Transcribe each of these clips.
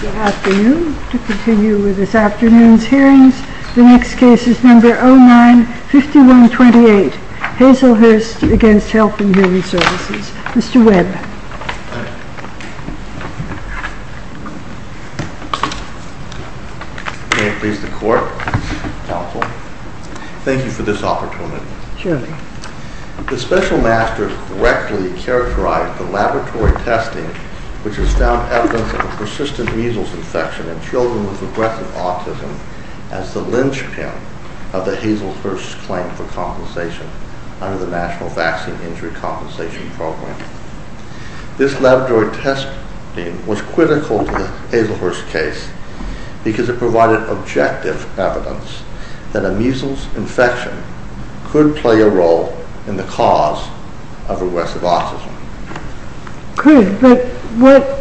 Good afternoon. To continue with this afternoon's hearings, the next case is number 09-5128, Hazelhurst v. Health and Human Services. Mr. Webb. May it please the Court, Counsel. Thank you for this opportunity. Surely. The Special Master correctly characterized the laboratory testing which has found evidence of a persistent measles infection in children with regressive autism as the linchpin of the Hazelhurst claim for compensation under the National Vaccine Injury Compensation Program. This laboratory testing was critical to the Hazelhurst case because it provided objective evidence that a measles infection could play a role in the cause of regressive autism. Could, but what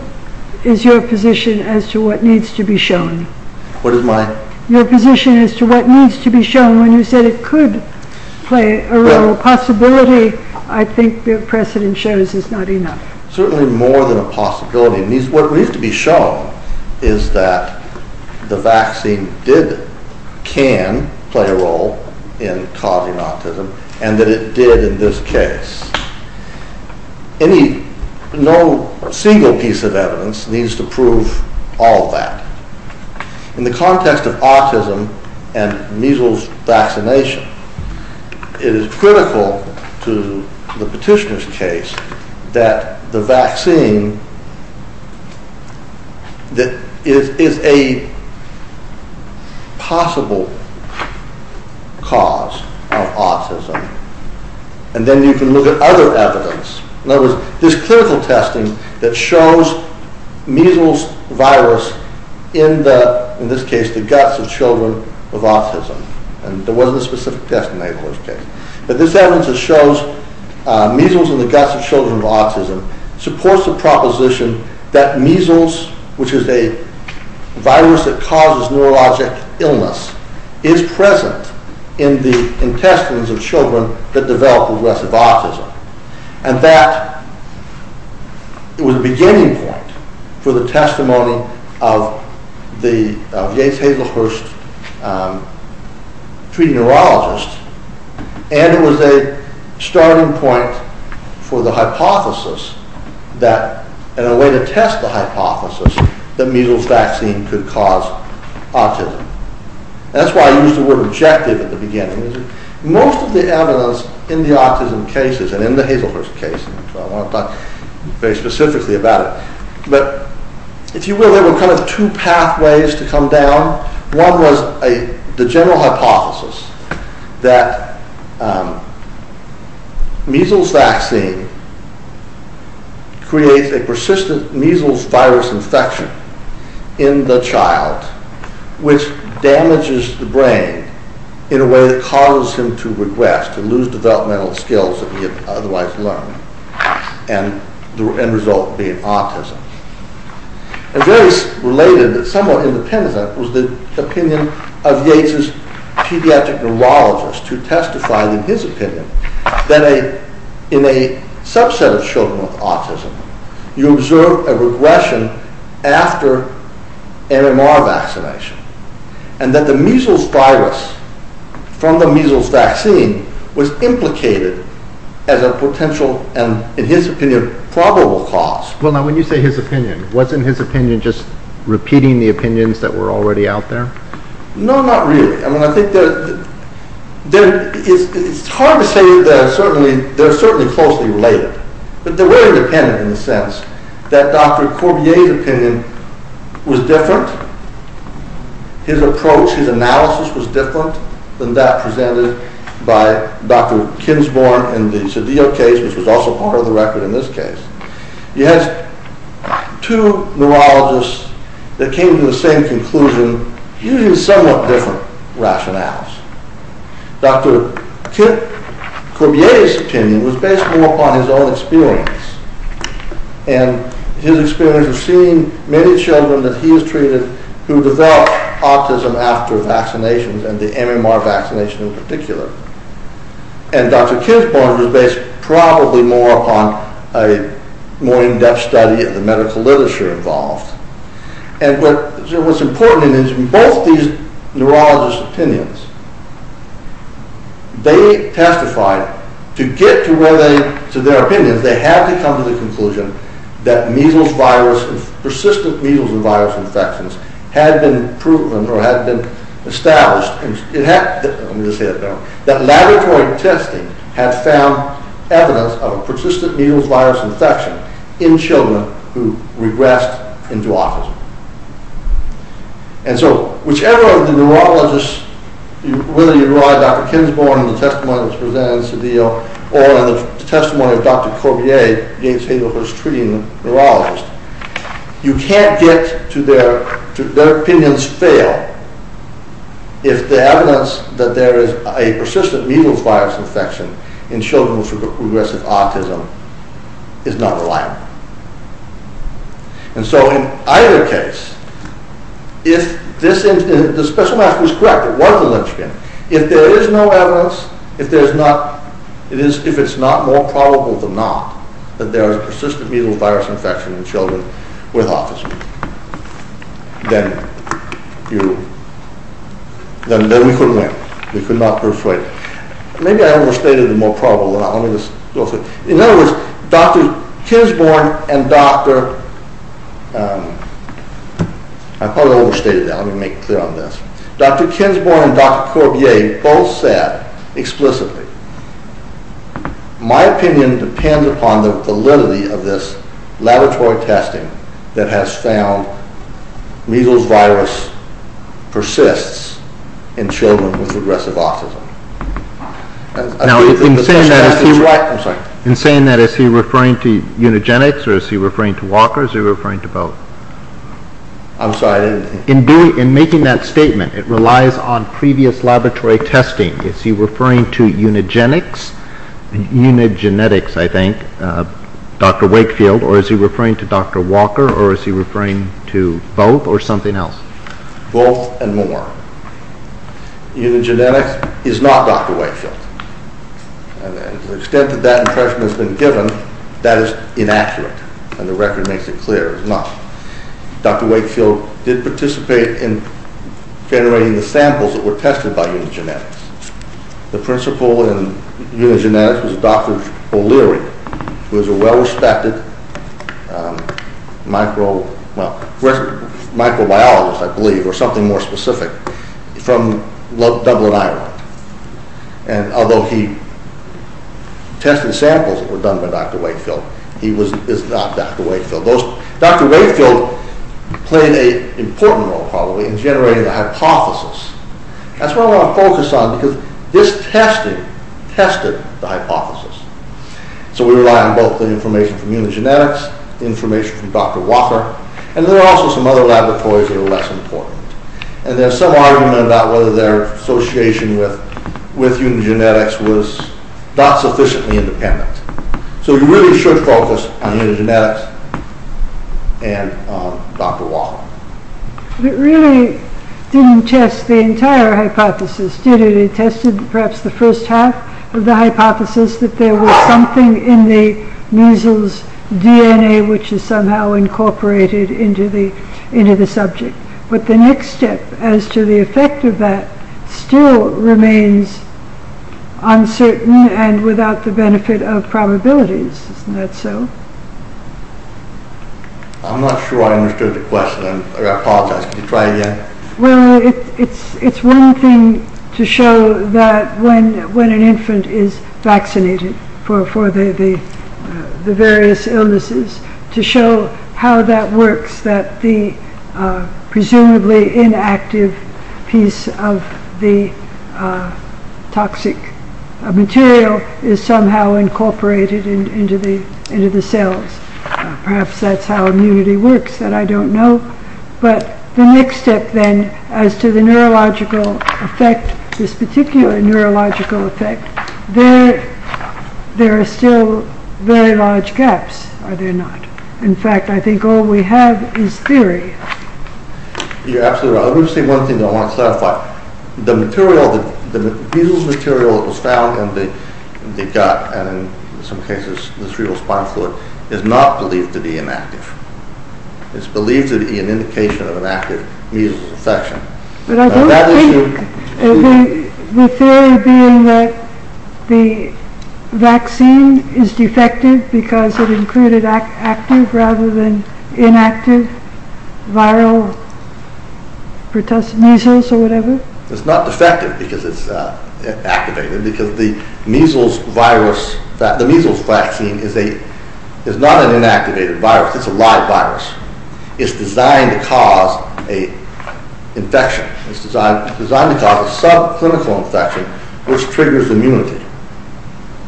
is your position as to what needs to be shown? What is my? Your position as to what needs to be shown when you said it could play a role. Possibility, I think the precedent shows, is not enough. Certainly more than a possibility. What needs to be shown is that the vaccine did, can play a role in causing autism and that it did in this case. Any, no single piece of evidence needs to prove all that. In the context of autism and measles vaccination, it is critical to the petitioner's case that the vaccine is a possible cause of autism and then you can look at other evidence. In other words, this clinical testing that shows measles virus in the, in this case, the guts of children with autism, and there wasn't a specific test in the Hazelhurst case, but this evidence that shows measles in the guts of children with autism supports the proposition that measles, which is a virus that causes neurologic illness, is present in the intestines of children that develop regressive autism. And that, it was a beginning point for the testimony of the Yates-Hazelhurst treating neurologist, and it was a starting point for the hypothesis that, and a way to test the hypothesis, that measles vaccine could cause autism. That's why I used the word objective at the beginning. Most of the evidence in the autism cases and in the Hazelhurst case, so I won't talk very specifically about it, but if you will, there were kind of two pathways to come down. One was the general hypothesis that measles vaccine creates a persistent measles virus infection in the child, which damages the brain in a way that causes him to regress, to lose developmental skills that he had otherwise learned, and the end result being autism. A very related, somewhat independent, was the opinion of Yates' pediatric neurologist who testified in his opinion that in a subset of children with autism, you observe a regression after MMR vaccination, and that the measles virus from the measles vaccine was implicated as a potential, and in his opinion, probable cause. Well now, when you say his opinion, wasn't his opinion just repeating the opinions that were already out there? No, not really. I mean, I think that it's hard to say that they're certainly closely related, but they were independent in the sense that Dr. Corbier's opinion was different. His approach, his analysis was different than that presented by Dr. Kinsborn in the Cedillo case, which was also part of the record in this case. He has two neurologists that came to the same conclusion using somewhat different rationales. Dr. Corbier's opinion was based more upon his own experience, and his experience of seeing many children that he has treated who develop autism after vaccinations, and the MMR vaccination in particular. And Dr. Kinsborn's was based probably more upon a more in-depth study of the medical literature involved. And what's important in both these neurologists' opinions, they testified to get to their opinions, they had to come to the conclusion that persistent measles and virus infections had been proven or had been established. Let me just say that now. That laboratory testing had found evidence of a persistent measles virus infection in children who regressed into autism. And so, whichever of the neurologists, whether you rely on Dr. Kinsborn in the testimony that was presented in Cedillo, or in the testimony of Dr. Corbier, James Hagerford's treating neurologist, you can't get to their opinions fail if the evidence that there is a persistent measles virus infection in children with progressive autism is not reliable. And so, in either case, if the special mask was correct, it was a lynchpin, if there is no evidence, if it's not more probable than not that there is a persistent measles virus infection in children with autism, then we couldn't win. Maybe I overstated the more probable than not. In other words, Dr. Kinsborn and Dr. Corbier both said explicitly, my opinion depends upon the validity of this laboratory testing that has found measles virus persists in children with progressive autism. In saying that, is he referring to Unigenix, or is he referring to Walker, or is he referring to both? In making that statement, it relies on previous laboratory testing. Is he referring to Unigenix, Dr. Wakefield, or is he referring to Dr. Walker, or is he referring to both, or something else? Both and more. Unigenix is not Dr. Wakefield. To the extent that that impression has been given, that is inaccurate, and the record makes it clear it's not. Dr. Wakefield did participate in generating the samples that were tested by Unigenix. The principal in Unigenix was Dr. O'Leary, who is a well-respected microbiologist, I believe, or something more specific, from Dublin, Ireland. Although he tested samples that were done by Dr. Wakefield, he is not Dr. Wakefield. Dr. Wakefield played an important role, probably, in generating the hypothesis. That's what I want to focus on, because this testing tested the hypothesis. So we rely on both the information from Unigenix, the information from Dr. Walker, and there are also some other laboratories that are less important. And there's some argument about whether their association with Unigenix was not sufficiently independent. So we really should focus on Unigenix and Dr. Walker. It really didn't test the entire hypothesis, did it? It tested perhaps the first half of the hypothesis, that there was something in the measles DNA which is somehow incorporated into the subject. But the next step as to the effect of that still remains uncertain and without the benefit of probabilities. Isn't that so? I'm not sure I understood the question. I apologize. Could you try again? It's one thing to show that when an infant is vaccinated for the various illnesses, to show how that works, that the presumably inactive piece of the toxic material is somehow incorporated into the cells. Perhaps that's how immunity works, that I don't know. But the next step then as to the neurological effect, this particular neurological effect, there are still very large gaps, are there not? In fact, I think all we have is theory. You're absolutely right. Let me say one thing I want to clarify. The measles material that was found in the gut and in some cases in the cerebral spine fluid is not believed to be inactive. It's believed to be an indication of an active measles infection. The theory being that the vaccine is defective because it included active rather than inactive viral measles or whatever? It's not defective because it's activated. Because the measles vaccine is not an inactivated virus, it's a live virus. It's designed to cause an infection. It's designed to cause a subclinical infection which triggers immunity.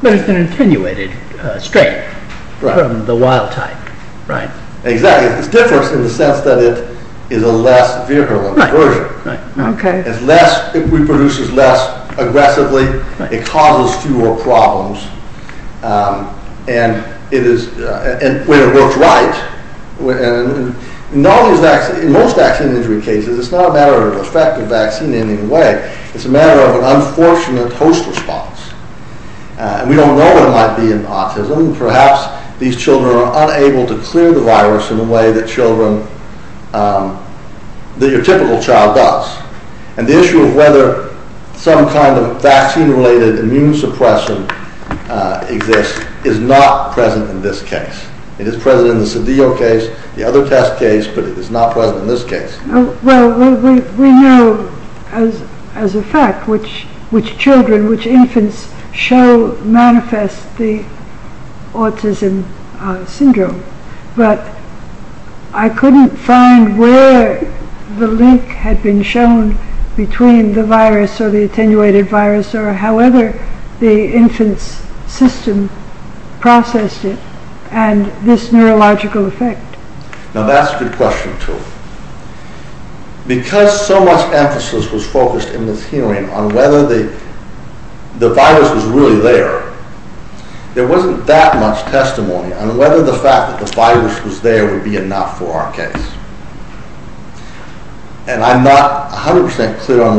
But it's an attenuated strain from the wild type, right? Exactly. It's different in the sense that it is a less virulent version. It reproduces less aggressively, it causes fewer problems, and when it works right, in most vaccine injury cases, it's not a matter of a defective vaccine in any way. It's a matter of an unfortunate host response. We don't know what it might be in autism. Perhaps these children are unable to clear the virus in a way that your typical child does. And the issue of whether some kind of vaccine-related immune suppression exists is not present in this case. It is present in the Sodeo case, the other test case, but it is not present in this case. Well, we know as a fact which children, which infants manifest the autism syndrome. But I couldn't find where the link had been shown between the virus or the attenuated virus or however the infant's system processed it and this neurological effect. Now that's a good question, too. Because so much emphasis was focused in this hearing on whether the virus was really there, there wasn't that much testimony on whether the fact that the virus was there would be enough for our case. And I'm not 100% clear on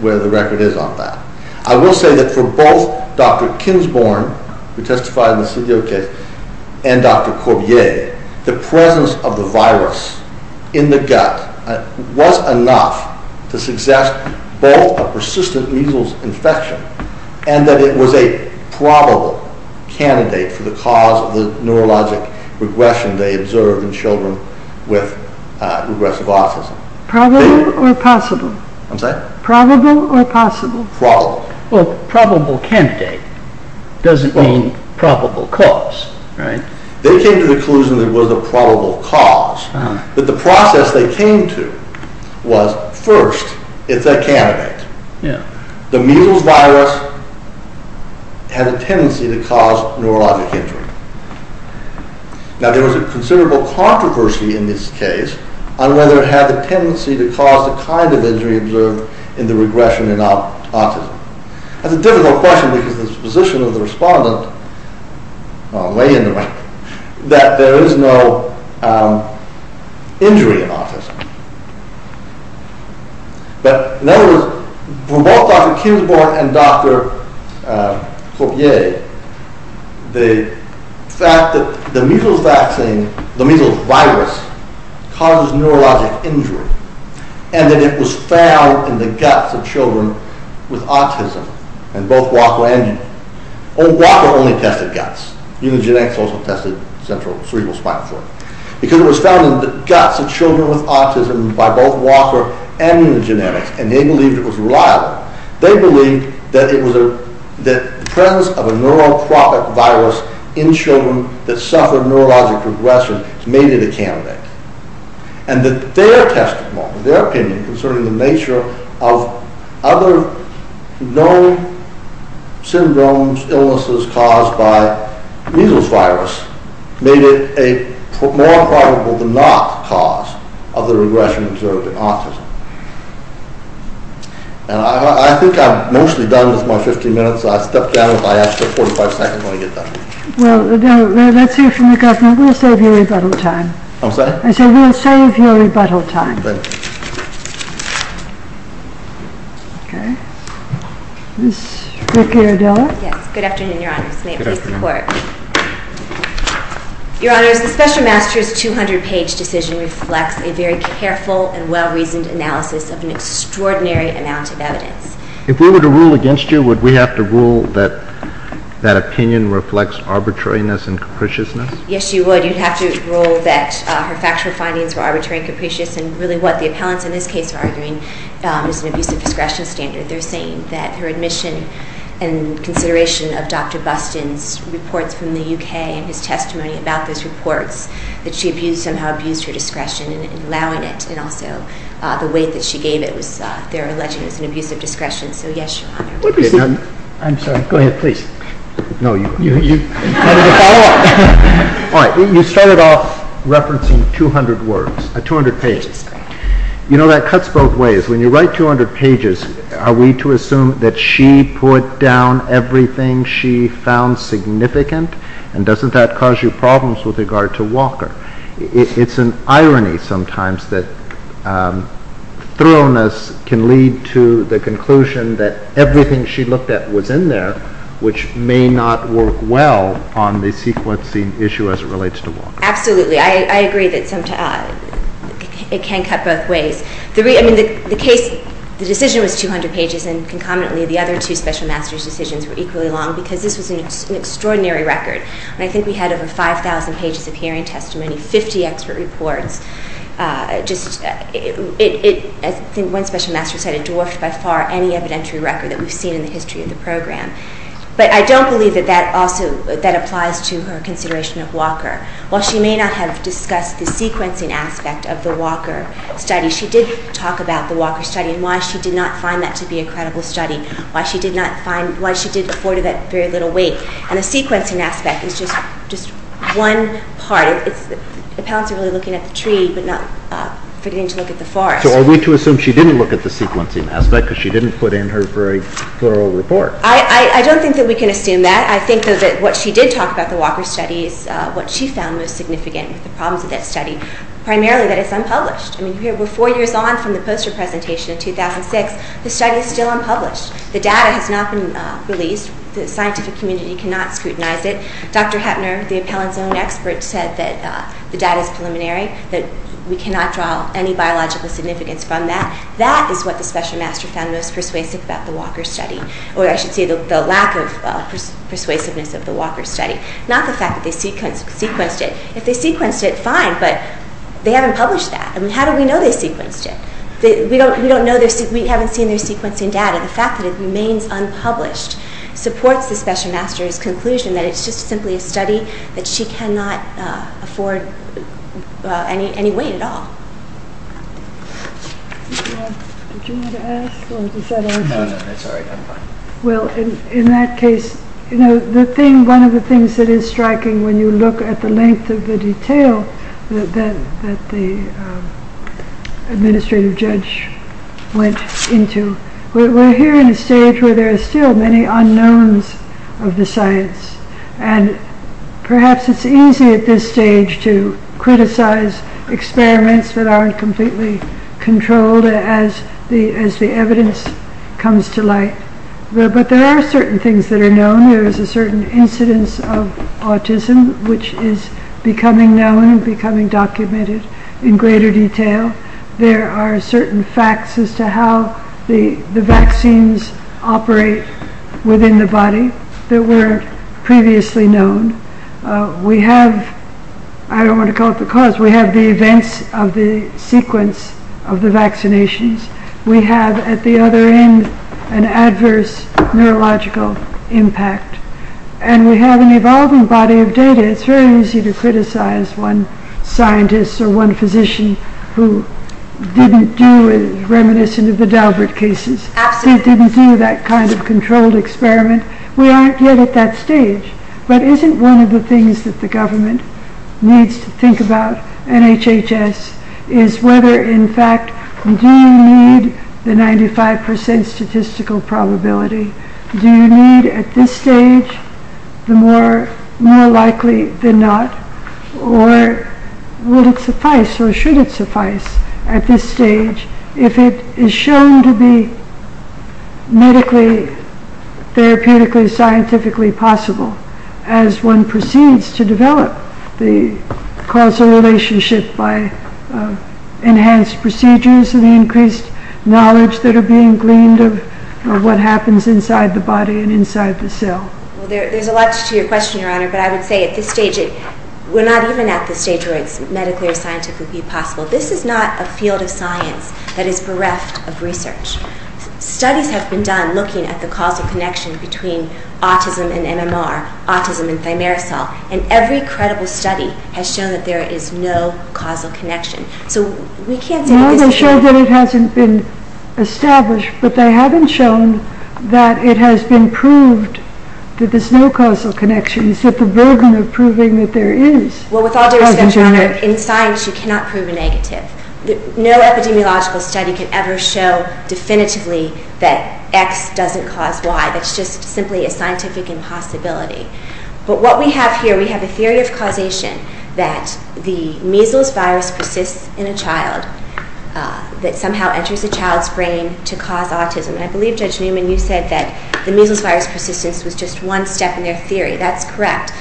where the record is on that. I will say that for both Dr. Kinsborn, who testified in the Sodeo case, and Dr. Corbier, the presence of the virus in the gut was enough to suggest both a persistent measles infection and that it was a probable candidate for the cause of the neurologic regression they observed in children with regressive autism. Probable or possible? I'm sorry? Probable or possible? Probable. Well, probable candidate doesn't mean probable cause, right? They came to the conclusion that it was a probable cause. But the process they came to was, first, it's a candidate. Yeah. The measles virus had a tendency to cause neurologic injury. Now there was a considerable controversy in this case on whether it had the tendency to cause the kind of injury observed in the regression in autism. That's a difficult question because the position of the respondent, way in the right, that there is no injury in autism. But, in other words, for both Dr. Kinsborn and Dr. Corbier, the fact that the measles vaccine, the measles virus, causes neurologic injury and that it was found in the guts of children with autism, and both Guapo and Unigenix. Guapo only tested guts. Unigenix also tested central cerebrospinal fluid. Because it was found in the guts of children with autism by both Walker and Unigenix. And they believed it was reliable. They believed that the presence of a neurotrophic virus in children that suffer neurologic regression made it a candidate. And that their testimony, their opinion concerning the nature of other known syndromes, illnesses caused by measles virus, made it a more probable than not cause of the regression observed in autism. And I think I'm mostly done with my 15 minutes. I'll step down with my extra 45 seconds when I get done. Well, Adele, let's hear from the government. We'll save you rebuttal time. I'm sorry? I said we'll save you rebuttal time. Thank you. Okay. Ms. Ricciardella? Yes. Good afternoon, Your Honors. May it please the Court. Your Honors, the Special Master's 200-page decision reflects a very careful and well-reasoned analysis of an extraordinary amount of evidence. If we were to rule against you, would we have to rule that that opinion reflects arbitrariness and capriciousness? Yes, you would. You'd have to rule that her factual findings were arbitrary and capricious, and really what the appellants in this case are arguing is an abuse of discretion standard. They're saying that her admission and consideration of Dr. Buston's reports from the U.K. and his testimony about those reports, that she somehow abused her discretion in allowing it, and also the weight that she gave it. They're alleging it's an abuse of discretion. So, yes, Your Honor. I'm sorry. Go ahead, please. No, you go first. All right. You started off referencing 200 words, 200 pages. You know, that cuts both ways. When you write 200 pages, are we to assume that she put down everything she found significant? And doesn't that cause you problems with regard to Walker? It's an irony sometimes that thoroughness can lead to the conclusion that everything she looked at was in there, which may not work well on the sequencing issue as it relates to Walker. Absolutely. I agree that it can cut both ways. I mean, the case, the decision was 200 pages, and concomitantly the other two special master's decisions were equally long because this was an extraordinary record. And I think we had over 5,000 pages of hearing testimony, 50 expert reports. Just, as one special master said, it dwarfed by far any evidentiary record that we've seen in the history of the program. But I don't believe that that also applies to her consideration of Walker. While she may not have discussed the sequencing aspect of the Walker study, she did talk about the Walker study and why she did not find that to be a credible study, why she did afford that very little weight. And the sequencing aspect is just one part. The parents are really looking at the tree but not forgetting to look at the forest. So are we to assume she didn't look at the sequencing aspect because she didn't put in her very thorough report? I don't think that we can assume that. I think that what she did talk about the Walker study is what she found most significant with the problems of that study, primarily that it's unpublished. I mean, we're four years on from the poster presentation in 2006. The study is still unpublished. The data has not been released. The scientific community cannot scrutinize it. Dr. Hettner, the appellant's own expert, said that the data is preliminary, that we cannot draw any biological significance from that. That is what the special master found most persuasive about the Walker study, or I should say the lack of persuasiveness of the Walker study, not the fact that they sequenced it. If they sequenced it, fine, but they haven't published that. I mean, how do we know they sequenced it? We don't know. We haven't seen their sequencing data. The fact that it remains unpublished supports the special master's conclusion that it's just simply a study that she cannot afford any weight at all. Well, in that case, you know, one of the things that is striking when you look at the length of the detail that the administrative judge went into, we're here in a stage where there are still many unknowns of the science. And perhaps it's easy at this stage to criticize experiments that aren't completely controlled as the evidence comes to light. But there are certain things that are known. There is a certain incidence of autism, which is becoming known, becoming documented in greater detail. There are certain facts as to how the vaccines operate within the body that were previously known. We have, I don't want to call it the cause, we have the events of the sequence of the vaccinations. We have, at the other end, an adverse neurological impact. And we have an evolving body of data. It's very easy to criticize one scientist or one physician who didn't do, reminiscent of the Daubert cases. They didn't do that kind of controlled experiment. We aren't yet at that stage. But isn't one of the things that the government needs to think about, and HHS, is whether, in fact, do you need the 95% statistical probability? Do you need, at this stage, the more likely than not? Or would it suffice, or should it suffice, at this stage, if it is shown to be medically, therapeutically, scientifically possible, as one proceeds to develop the causal relationship by enhanced procedures and the increased knowledge that are being gleaned of what happens inside the body and inside the cell? There's a lot to your question, Your Honor, but I would say at this stage, we're not even at the stage where it's medically or scientifically possible. This is not a field of science that is bereft of research. Studies have been done looking at the causal connection between autism and MMR, autism and thimerosal, and every credible study has shown that there is no causal connection. So we can't say that this is... Well, they show that it hasn't been established, but they haven't shown that it has been proved that there's no causal connection. It's at the burden of proving that there is a causal connection. Well, with all due respect, Your Honor, in science you cannot prove a negative. No epidemiological study can ever show definitively that X doesn't cause Y. That's just simply a scientific impossibility. But what we have here, we have a theory of causation that the measles virus persists in a child that somehow enters a child's brain to cause autism. And I believe, Judge Newman, you said that the measles virus persistence was just one step in their theory. That's correct.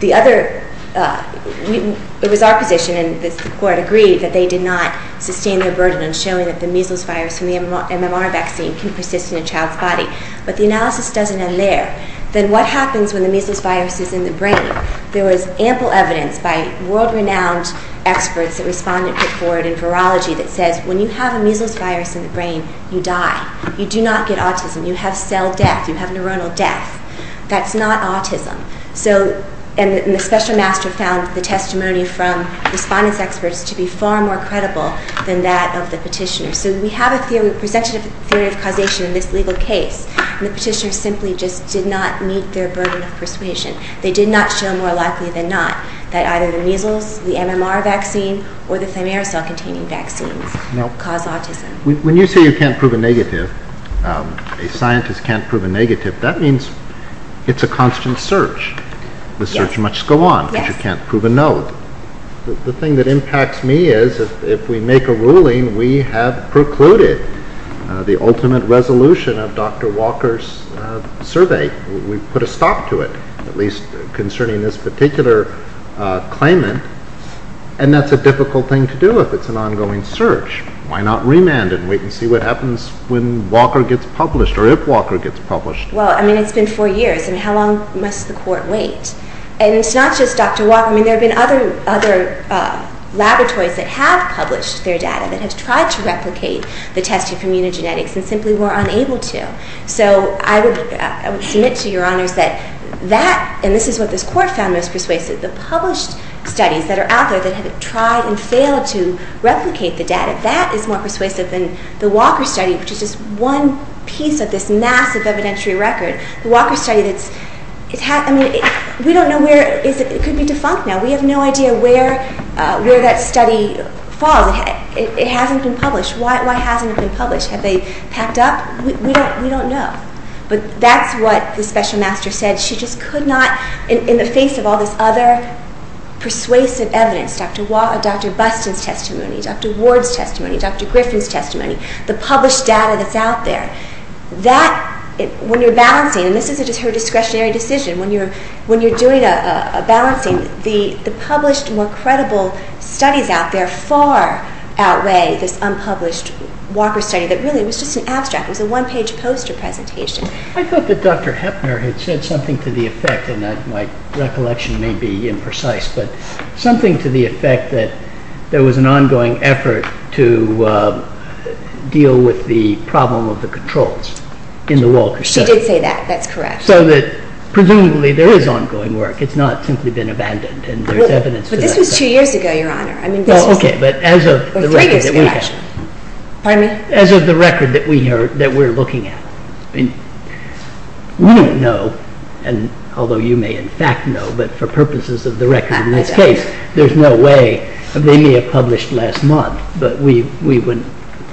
The other... It was our position, and the court agreed, that they did not sustain their burden in showing that the measles virus from the MMR vaccine can persist in a child's body. But the analysis doesn't end there. Then what happens when the measles virus is in the brain? There was ample evidence by world-renowned experts that responded to the court in virology that says, when you have a measles virus in the brain, you die. You do not get autism. You have cell death. You have neuronal death. That's not autism. And the special master found the testimony from respondents' experts to be far more credible than that of the petitioner. So we have a presumptive theory of causation in this legal case, and the petitioner simply just did not meet their burden of persuasion. They did not show more likely than not that either the measles, the MMR vaccine, or the thimerosal-containing vaccines cause autism. When you say you can't prove a negative, a scientist can't prove a negative, that means it's a constant search. The search must go on because you can't prove a no. The thing that impacts me is if we make a ruling, we have precluded the ultimate resolution of Dr. Walker's survey. We've put a stop to it, at least concerning this particular claimant, and that's a difficult thing to do if it's an ongoing search. Why not remand it and wait and see what happens when Walker gets published, or if Walker gets published? Well, I mean, it's been four years, and how long must the Court wait? And it's not just Dr. Walker. I mean, there have been other laboratories that have published their data, that have tried to replicate the testing from immunogenetics and simply were unable to. So I would submit to Your Honors that that, and this is what this Court found most persuasive, the published studies that are out there that have tried and failed to replicate the data, that is more persuasive than the Walker study, which is just one piece of this massive evidentiary record. The Walker study, I mean, we don't know where it is. It could be defunct now. We have no idea where that study falls. It hasn't been published. Why hasn't it been published? Have they packed up? We don't know. But that's what the special master said. She just could not, in the face of all this other persuasive evidence, Dr. Buston's testimony, Dr. Ward's testimony, Dr. Griffin's testimony, the published data that's out there, that, when you're balancing, and this is her discretionary decision, when you're doing a balancing, the published, more credible studies out there far outweigh this unpublished Walker study that really was just an abstract, was a one-page poster presentation. I thought that Dr. Heppner had said something to the effect, and my recollection may be imprecise, but something to the effect that there was an ongoing effort to deal with the problem of the controls in the Walker study. She did say that. That's correct. So that, presumably, there is ongoing work. It's not simply been abandoned, and there's evidence to that effect. But this was two years ago, Your Honor. Three years ago, actually. Pardon me? We don't know, although you may, in fact, know, but for purposes of the record, in this case, there's no way. They may have published last month, but we wouldn't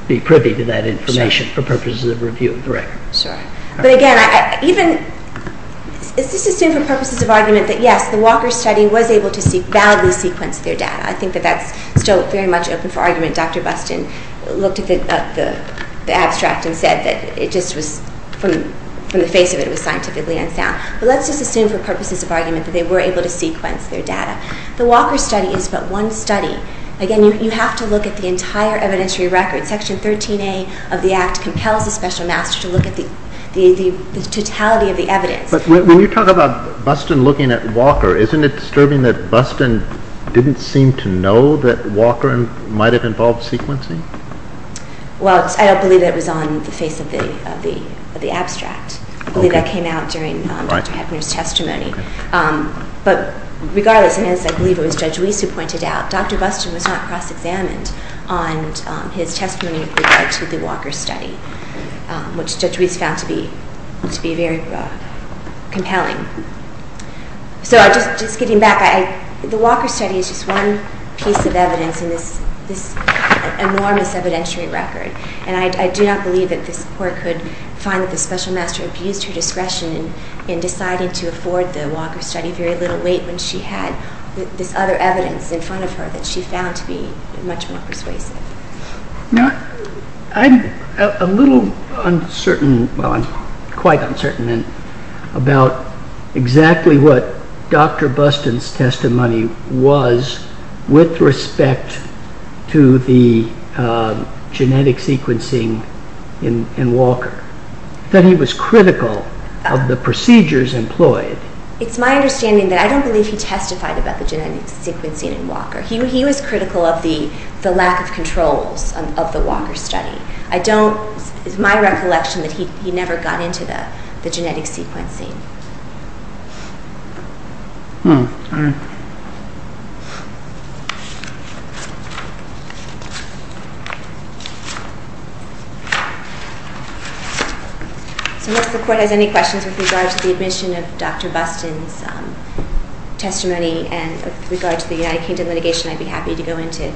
be privy to that information for purposes of review of the record. Sorry. But, again, is this assumed for purposes of argument that, yes, the Walker study was able to validly sequence their data? I think that that's still very much open for argument. Dr. Buston looked at the abstract and said that it just was, from the face of it, it was scientifically unsound. But let's just assume for purposes of argument that they were able to sequence their data. The Walker study is but one study. Again, you have to look at the entire evidentiary record. Section 13A of the Act compels the special master to look at the totality of the evidence. But when you talk about Buston looking at Walker, isn't it disturbing that Buston didn't seem to know that Walker might have involved sequencing? Well, I don't believe that it was on the face of the abstract. I believe that came out during Dr. Hebner's testimony. But regardless, and as I believe it was Judge Weiss who pointed out, Dr. Buston was not cross-examined on his testimony with regard to the Walker study, which Judge Weiss found to be very compelling. So just getting back, the Walker study is just one piece of evidence in this enormous evidentiary record. And I do not believe that this Court could find that the special master abused her discretion in deciding to afford the Walker study very little weight when she had this other evidence in front of her that she found to be much more persuasive. I'm a little uncertain, well, I'm quite uncertain about exactly what Dr. Buston's testimony was with respect to the genetic sequencing in Walker, that he was critical of the procedures employed. It's my understanding that I don't believe he testified about the genetic sequencing in Walker. He was critical of the lack of controls of the Walker study. It's my recollection that he never got into the genetic sequencing. So unless the Court has any questions with regard to the admission of Dr. Buston's testimony and with regard to the United Kingdom litigation, I'd be happy to go into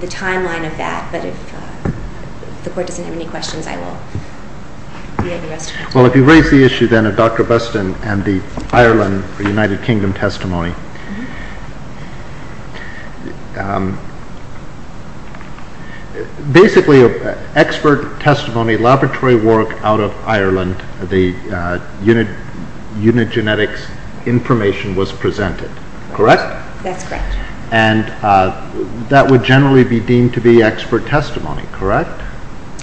the timeline of that. But if the Court doesn't have any questions, I will be at your discretion. Well, if you raise the issue then of Dr. Buston and the Ireland or United Kingdom testimony. Basically, expert testimony, laboratory work out of Ireland, the unit genetics information was presented, correct? That's correct. And that would generally be deemed to be expert testimony, correct,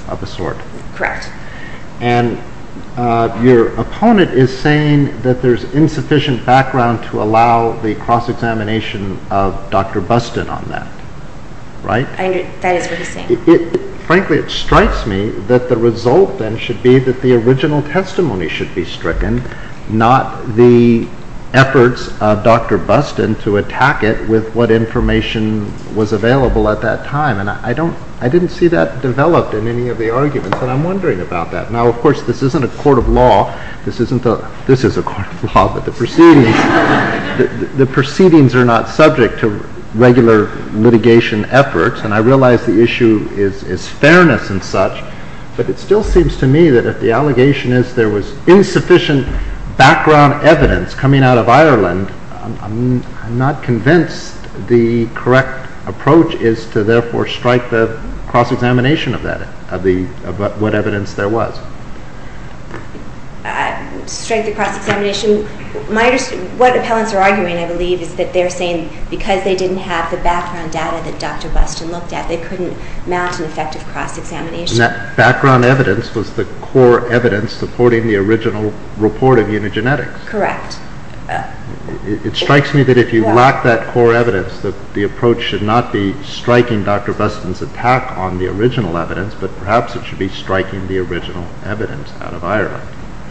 of a sort? Correct. And your opponent is saying that there's insufficient background to allow the cross-examination of Dr. Buston on that, right? That is what he's saying. Frankly, it strikes me that the result then should be that the original testimony should be stricken, not the efforts of Dr. Buston to attack it with what information was available at that time. And I didn't see that developed in any of the arguments, and I'm wondering about that. Now, of course, this isn't a court of law. This is a court of law, but the proceedings are not subject to regular litigation efforts. And I realize the issue is fairness and such, but it still seems to me that if the allegation is there was insufficient background evidence coming out of Ireland, I'm not convinced the correct approach is to therefore strike the cross-examination of what evidence there was. Strike the cross-examination? What appellants are arguing, I believe, is that they're saying because they didn't have the background data that Dr. Buston looked at, they couldn't mount an effective cross-examination. And that background evidence was the core evidence supporting the original report of Unigenetics. Correct. It strikes me that if you lack that core evidence, that the approach should not be striking Dr. Buston's attack on the original evidence, but perhaps it should be striking the original evidence out of Ireland.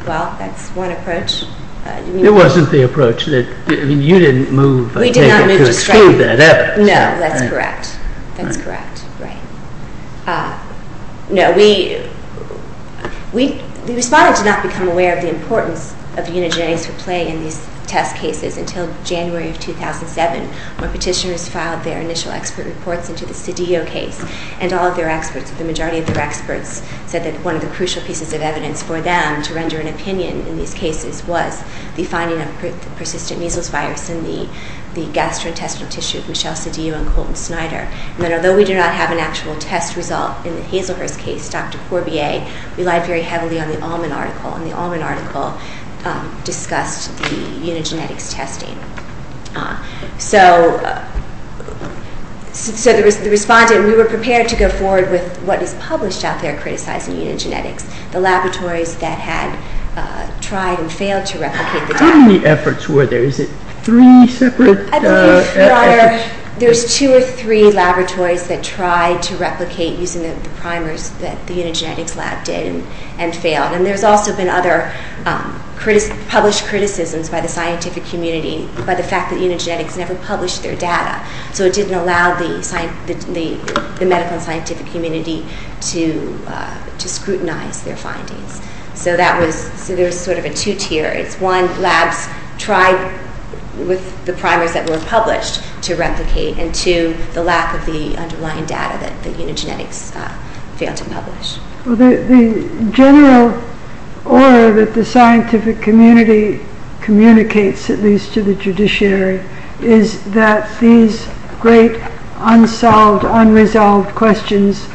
Well, that's one approach. It wasn't the approach that, I mean, you didn't move to exclude that evidence. No, that's correct. That's correct. Right. No, we responded to not become aware of the importance of Unigenetics for play in these test cases until January of 2007, when petitioners filed their initial expert reports into the Cedillo case. And all of their experts, the majority of their experts, said that one of the crucial pieces of evidence for them to render an opinion in these cases was the finding of persistent measles virus in the gastrointestinal tissue of Michelle Cedillo and Colton Snyder. And that although we do not have an actual test result in the Hazelhurst case, Dr. Courbier relied very heavily on the Allman article, and the Allman article discussed the Unigenetics testing. So the respondent, we were prepared to go forward with what is published out there criticizing Unigenetics, the laboratories that had tried and failed to replicate the data. How many efforts were there? Is it three separate efforts? I believe there's two or three laboratories that tried to replicate using the primers that the Unigenetics lab did and failed. And there's also been other published criticisms by the scientific community by the fact that Unigenetics never published their data. So it didn't allow the medical and scientific community to scrutinize their findings. So there's sort of a two-tier. It's one, labs tried with the primers that were published to replicate, and two, the lack of the underlying data that Unigenetics failed to publish. The general order that the scientific community communicates, at least to the judiciary, is that these great unsolved, unresolved questions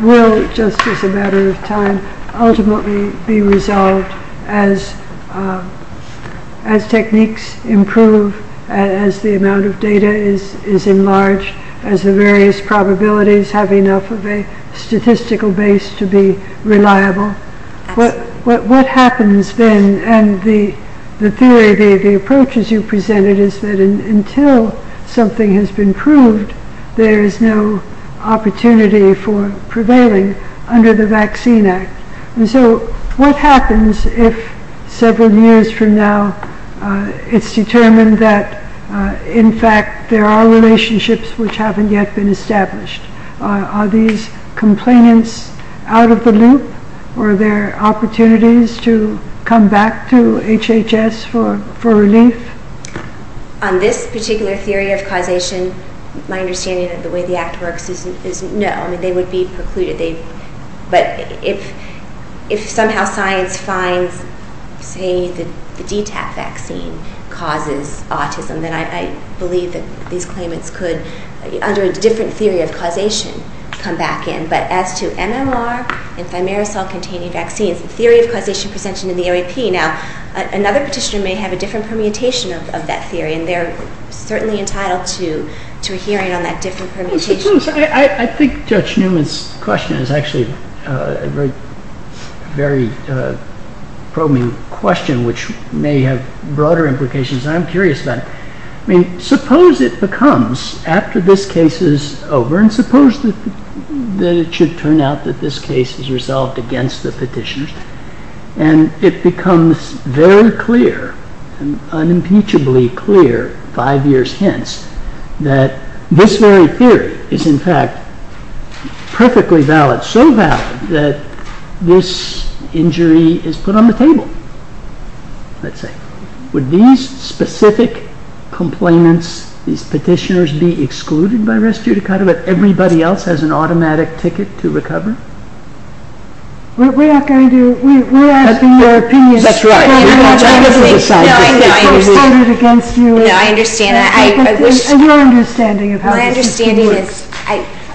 will, just as a matter of time, ultimately be resolved as techniques improve, as the amount of data is enlarged, as the various probabilities have enough of a statistical base to be reliable. What happens then, and the theory, the approaches you presented, is that until something has been proved, there is no opportunity for prevailing under the Vaccine Act. So what happens if several years from now it's determined that, in fact, there are relationships which haven't yet been established? Are these complainants out of the loop? Are there opportunities to come back to HHS for relief? On this particular theory of causation, my understanding of the way the Act works is no. I mean, they would be precluded. But if somehow science finds, say, the DTaP vaccine causes autism, then I believe that these claimants could, under a different theory of causation, come back in. But as to MMR and thimerosal-containing vaccines, the theory of causation presented in the AAP, now, another petitioner may have a different permutation of that theory, and they're certainly entitled to a hearing on that different permutation. I think Judge Newman's question is actually a very probing question, which may have broader implications, and I'm curious about it. I mean, suppose it becomes, after this case is over, and suppose that it should turn out that this case is resolved against the petitioner, and it becomes very clear, unimpeachably clear, five years hence, that this very theory is, in fact, perfectly valid, so valid, that this injury is put on the table, let's say. Would these specific complainants, these petitioners, be excluded by res judicata, if everybody else has an automatic ticket to recovery? We're not going to... That's right. No, I understand. My understanding is,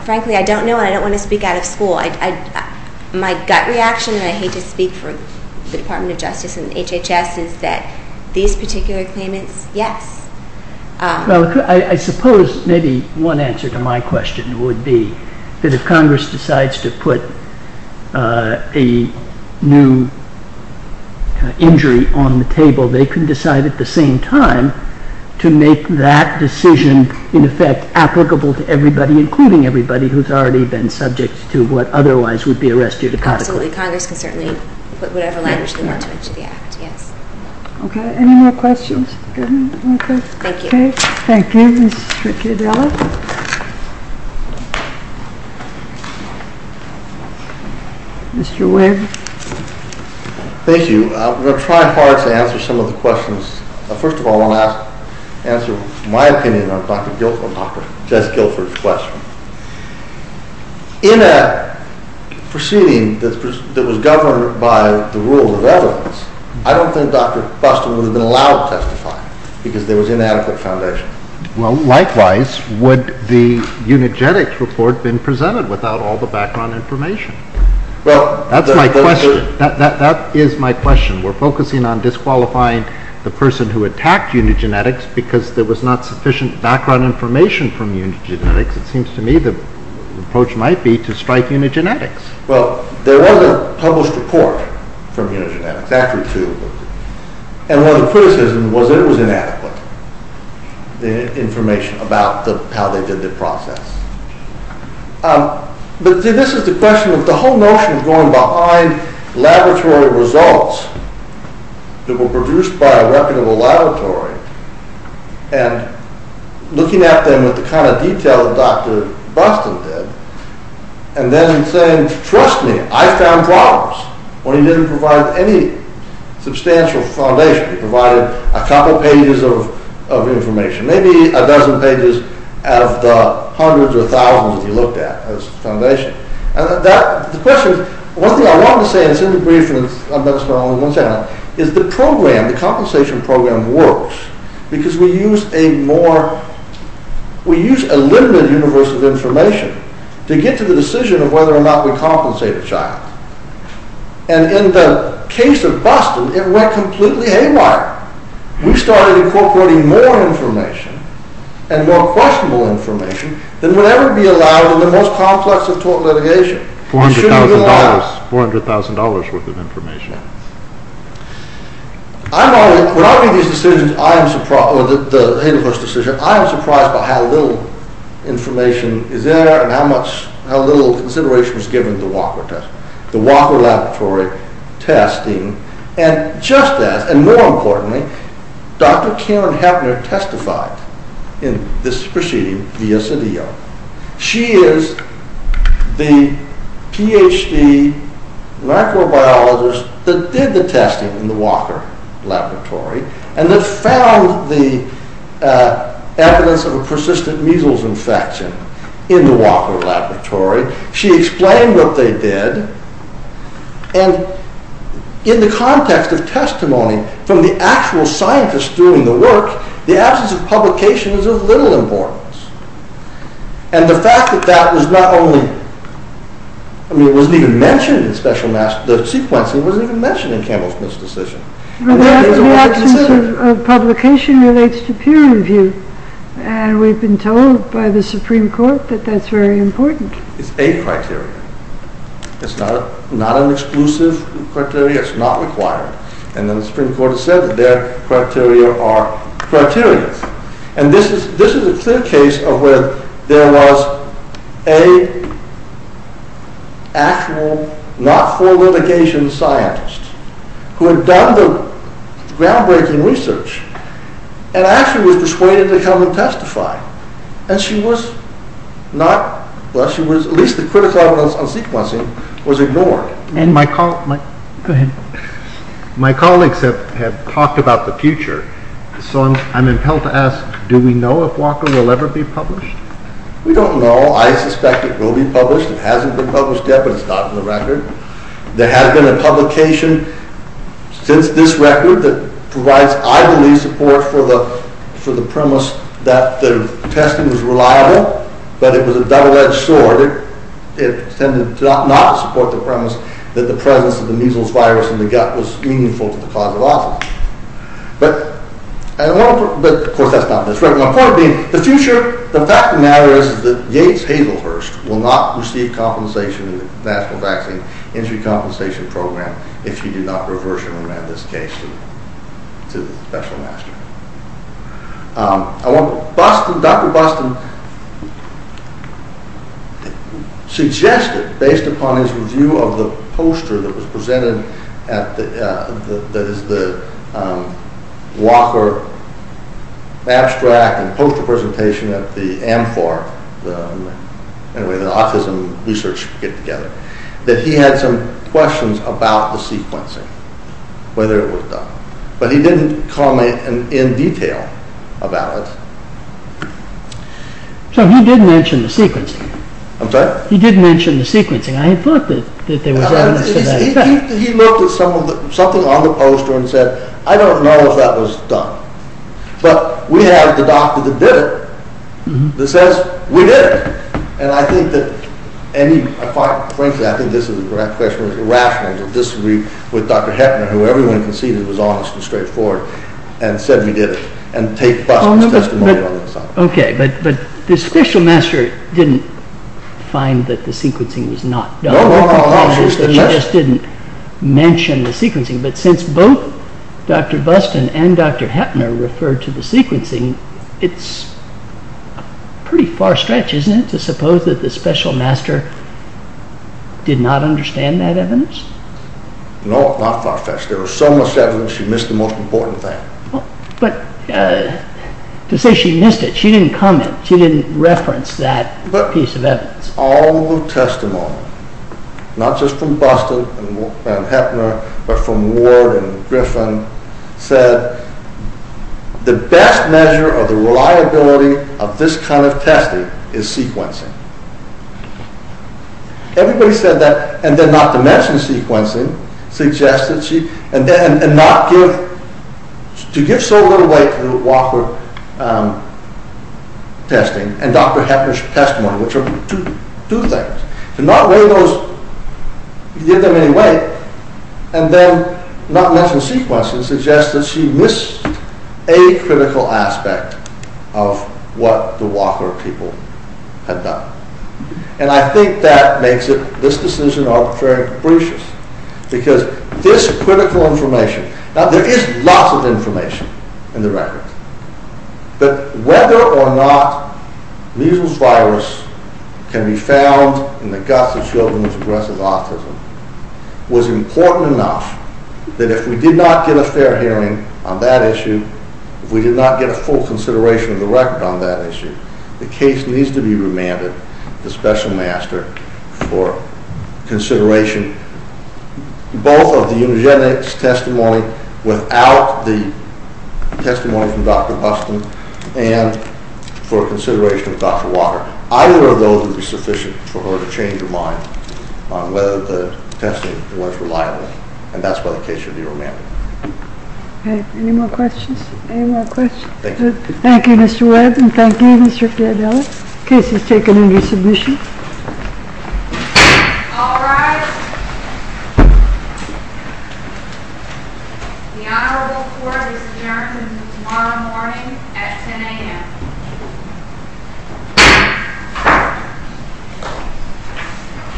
frankly, I don't know, and I don't want to speak out of school. My gut reaction, and I hate to speak for the Department of Justice and HHS, is that these particular claimants, yes. Well, I suppose maybe one answer to my question would be that if Congress decides to put a new injury on the table, they can decide at the same time to make that decision, in effect, applicable to everybody, including everybody who's already been subject to what otherwise would be a res judicata claim. Absolutely. Congress can certainly put whatever language they want to into the Act, yes. Okay. Any more questions? Thank you. Thank you. Mr. Cadella? Mr. Wave? Thank you. I'm going to try hard to answer some of the questions. First of all, I want to answer my opinion on Dr. Guilford, Dr. Jess Guilford's question. In a proceeding that was governed by the rules of evidence, I don't think Dr. Buston would have been allowed to testify, because there was inadequate foundation. Well, likewise, would the Unigenetics report have been presented without all the background information? That's my question. That is my question. We're focusing on disqualifying the person who attacked Unigenetics because there was not sufficient background information from Unigenetics. It seems to me the approach might be to strike Unigenetics. Well, there was a published report from Unigenetics, actually two. And one of the criticisms was that it was inadequate, the information about how they did the process. But this is the question. The whole notion of going behind laboratory results that were produced by a reputable laboratory and looking at them with the kind of detail that Dr. Buston did and then saying, trust me, I found problems. When he didn't provide any substantial foundation, he provided a couple pages of information, maybe a dozen pages out of the hundreds or thousands that he looked at as foundation. The question is, one thing I want to say, and it's in the brief that I'm going to start on in one second, is the program, the compensation program works because we use a more, we use a limited universe of information to get to the decision of whether or not we compensate a child. And in the case of Buston, it went completely haywire. We started incorporating more information and more questionable information than would ever be allowed in the most complex of tort litigation. It shouldn't be allowed. $400,000 worth of information. When I make these decisions, I am surprised, or the Haydenhurst decision, I am surprised by how little information is there and how little consideration was given to the Walker test, the Walker Laboratory testing. And just as, and more importantly, Dr. Karen Heppner testified in this proceeding via CDO. She is the PhD microbiologist that did the testing in the Walker Laboratory and that found the evidence of a persistent measles infection in the Walker Laboratory. She explained what they did and in the context of testimony from the actual scientists doing the work, the absence of publication is of little importance. And the fact that that was not only, I mean, it wasn't even mentioned in special, the sequencing wasn't even mentioned in Campbell Smith's decision. The absence of publication relates to peer review and we've been told by the Supreme Court that that's very important. It's a criteria. It's not an exclusive criteria. It's not required. And then the Supreme Court has said that their criteria are criteria. And this is a clear case of where there was an actual, not full litigation scientist who had done the groundbreaking research and actually was persuaded to come and testify. And she was not, well, at least the critical evidence on sequencing was ignored. And my colleagues have talked about the future, so I'm compelled to ask, do we know if Walker will ever be published? We don't know. I suspect it will be published. It hasn't been published yet, but it's not in the record. There has been a publication since this record that provides, I believe, support for the premise that the testing was reliable, but it was a double-edged sword. It tended to not support the premise that the presence of the measles virus in the gut was meaningful to the cause of autism. But, of course, that's not this record. My point being, the future, the fact of the matter is that Yates-Hazelhurst will not receive compensation in the National Vaccine Injury Compensation Program if she did not reversion this case to the special master. Dr. Boston suggested, based upon his review of the poster that was presented at the Walker abstract and poster presentation at the AMFAR, the Autism Research Get-Together, that he had some questions about the sequencing, whether it was done. But he didn't comment in detail about it. So he did mention the sequencing. I'm sorry? He did mention the sequencing. I thought that there was evidence of that. He looked at something on the poster and said, I don't know if that was done. But we have the doctor that did it that says we did it. And I think that, frankly, I think this is a rational to disagree with Dr. Heppner, who everyone conceded was honest and straightforward and said we did it, and take Boston's testimony on that side. Okay, but the special master didn't find that the sequencing was not done. No, no, no. He just didn't mention the sequencing. But since both Dr. Boston and Dr. Heppner referred to the sequencing, it's pretty far-stretched, isn't it, to suppose that the special master did not understand that evidence? No, not far-stretched. There was so much evidence, she missed the most important thing. But to say she missed it, she didn't comment, she didn't reference that piece of evidence. But all the testimony, not just from Boston and Heppner, but from Ward and Griffin, said the best measure of the reliability of this kind of testing is sequencing. Everybody said that, and then not to mention sequencing, suggested she, and not give, to give so little weight to the Walker testing and Dr. Heppner's testimony, which are two things. To not weigh those, give them any weight, and then not mention sequencing, suggests that she missed a critical aspect of what the Walker people had done. And I think that makes it, this decision, arbitrary and capricious. Because this critical information, now there is lots of information in the records, but whether or not measles virus can be found in the guts of children was important enough that if we did not get a fair hearing on that issue, if we did not get a full consideration of the record on that issue, the case needs to be remanded to Special Master for consideration, both of the eugenics testimony without the testimony from Dr. Boston, and for consideration of Dr. Walker. Either of those would be sufficient for her to change her mind on whether the testing was reliable. And that's why the case should be remanded. Okay, any more questions? Any more questions? Thank you. Thank you, Mr. Webb, and thank you, Mr. Fiabella. Case is taken into submission. All rise. The Honorable Court is adjourned until tomorrow morning at 10 a.m. Thank you.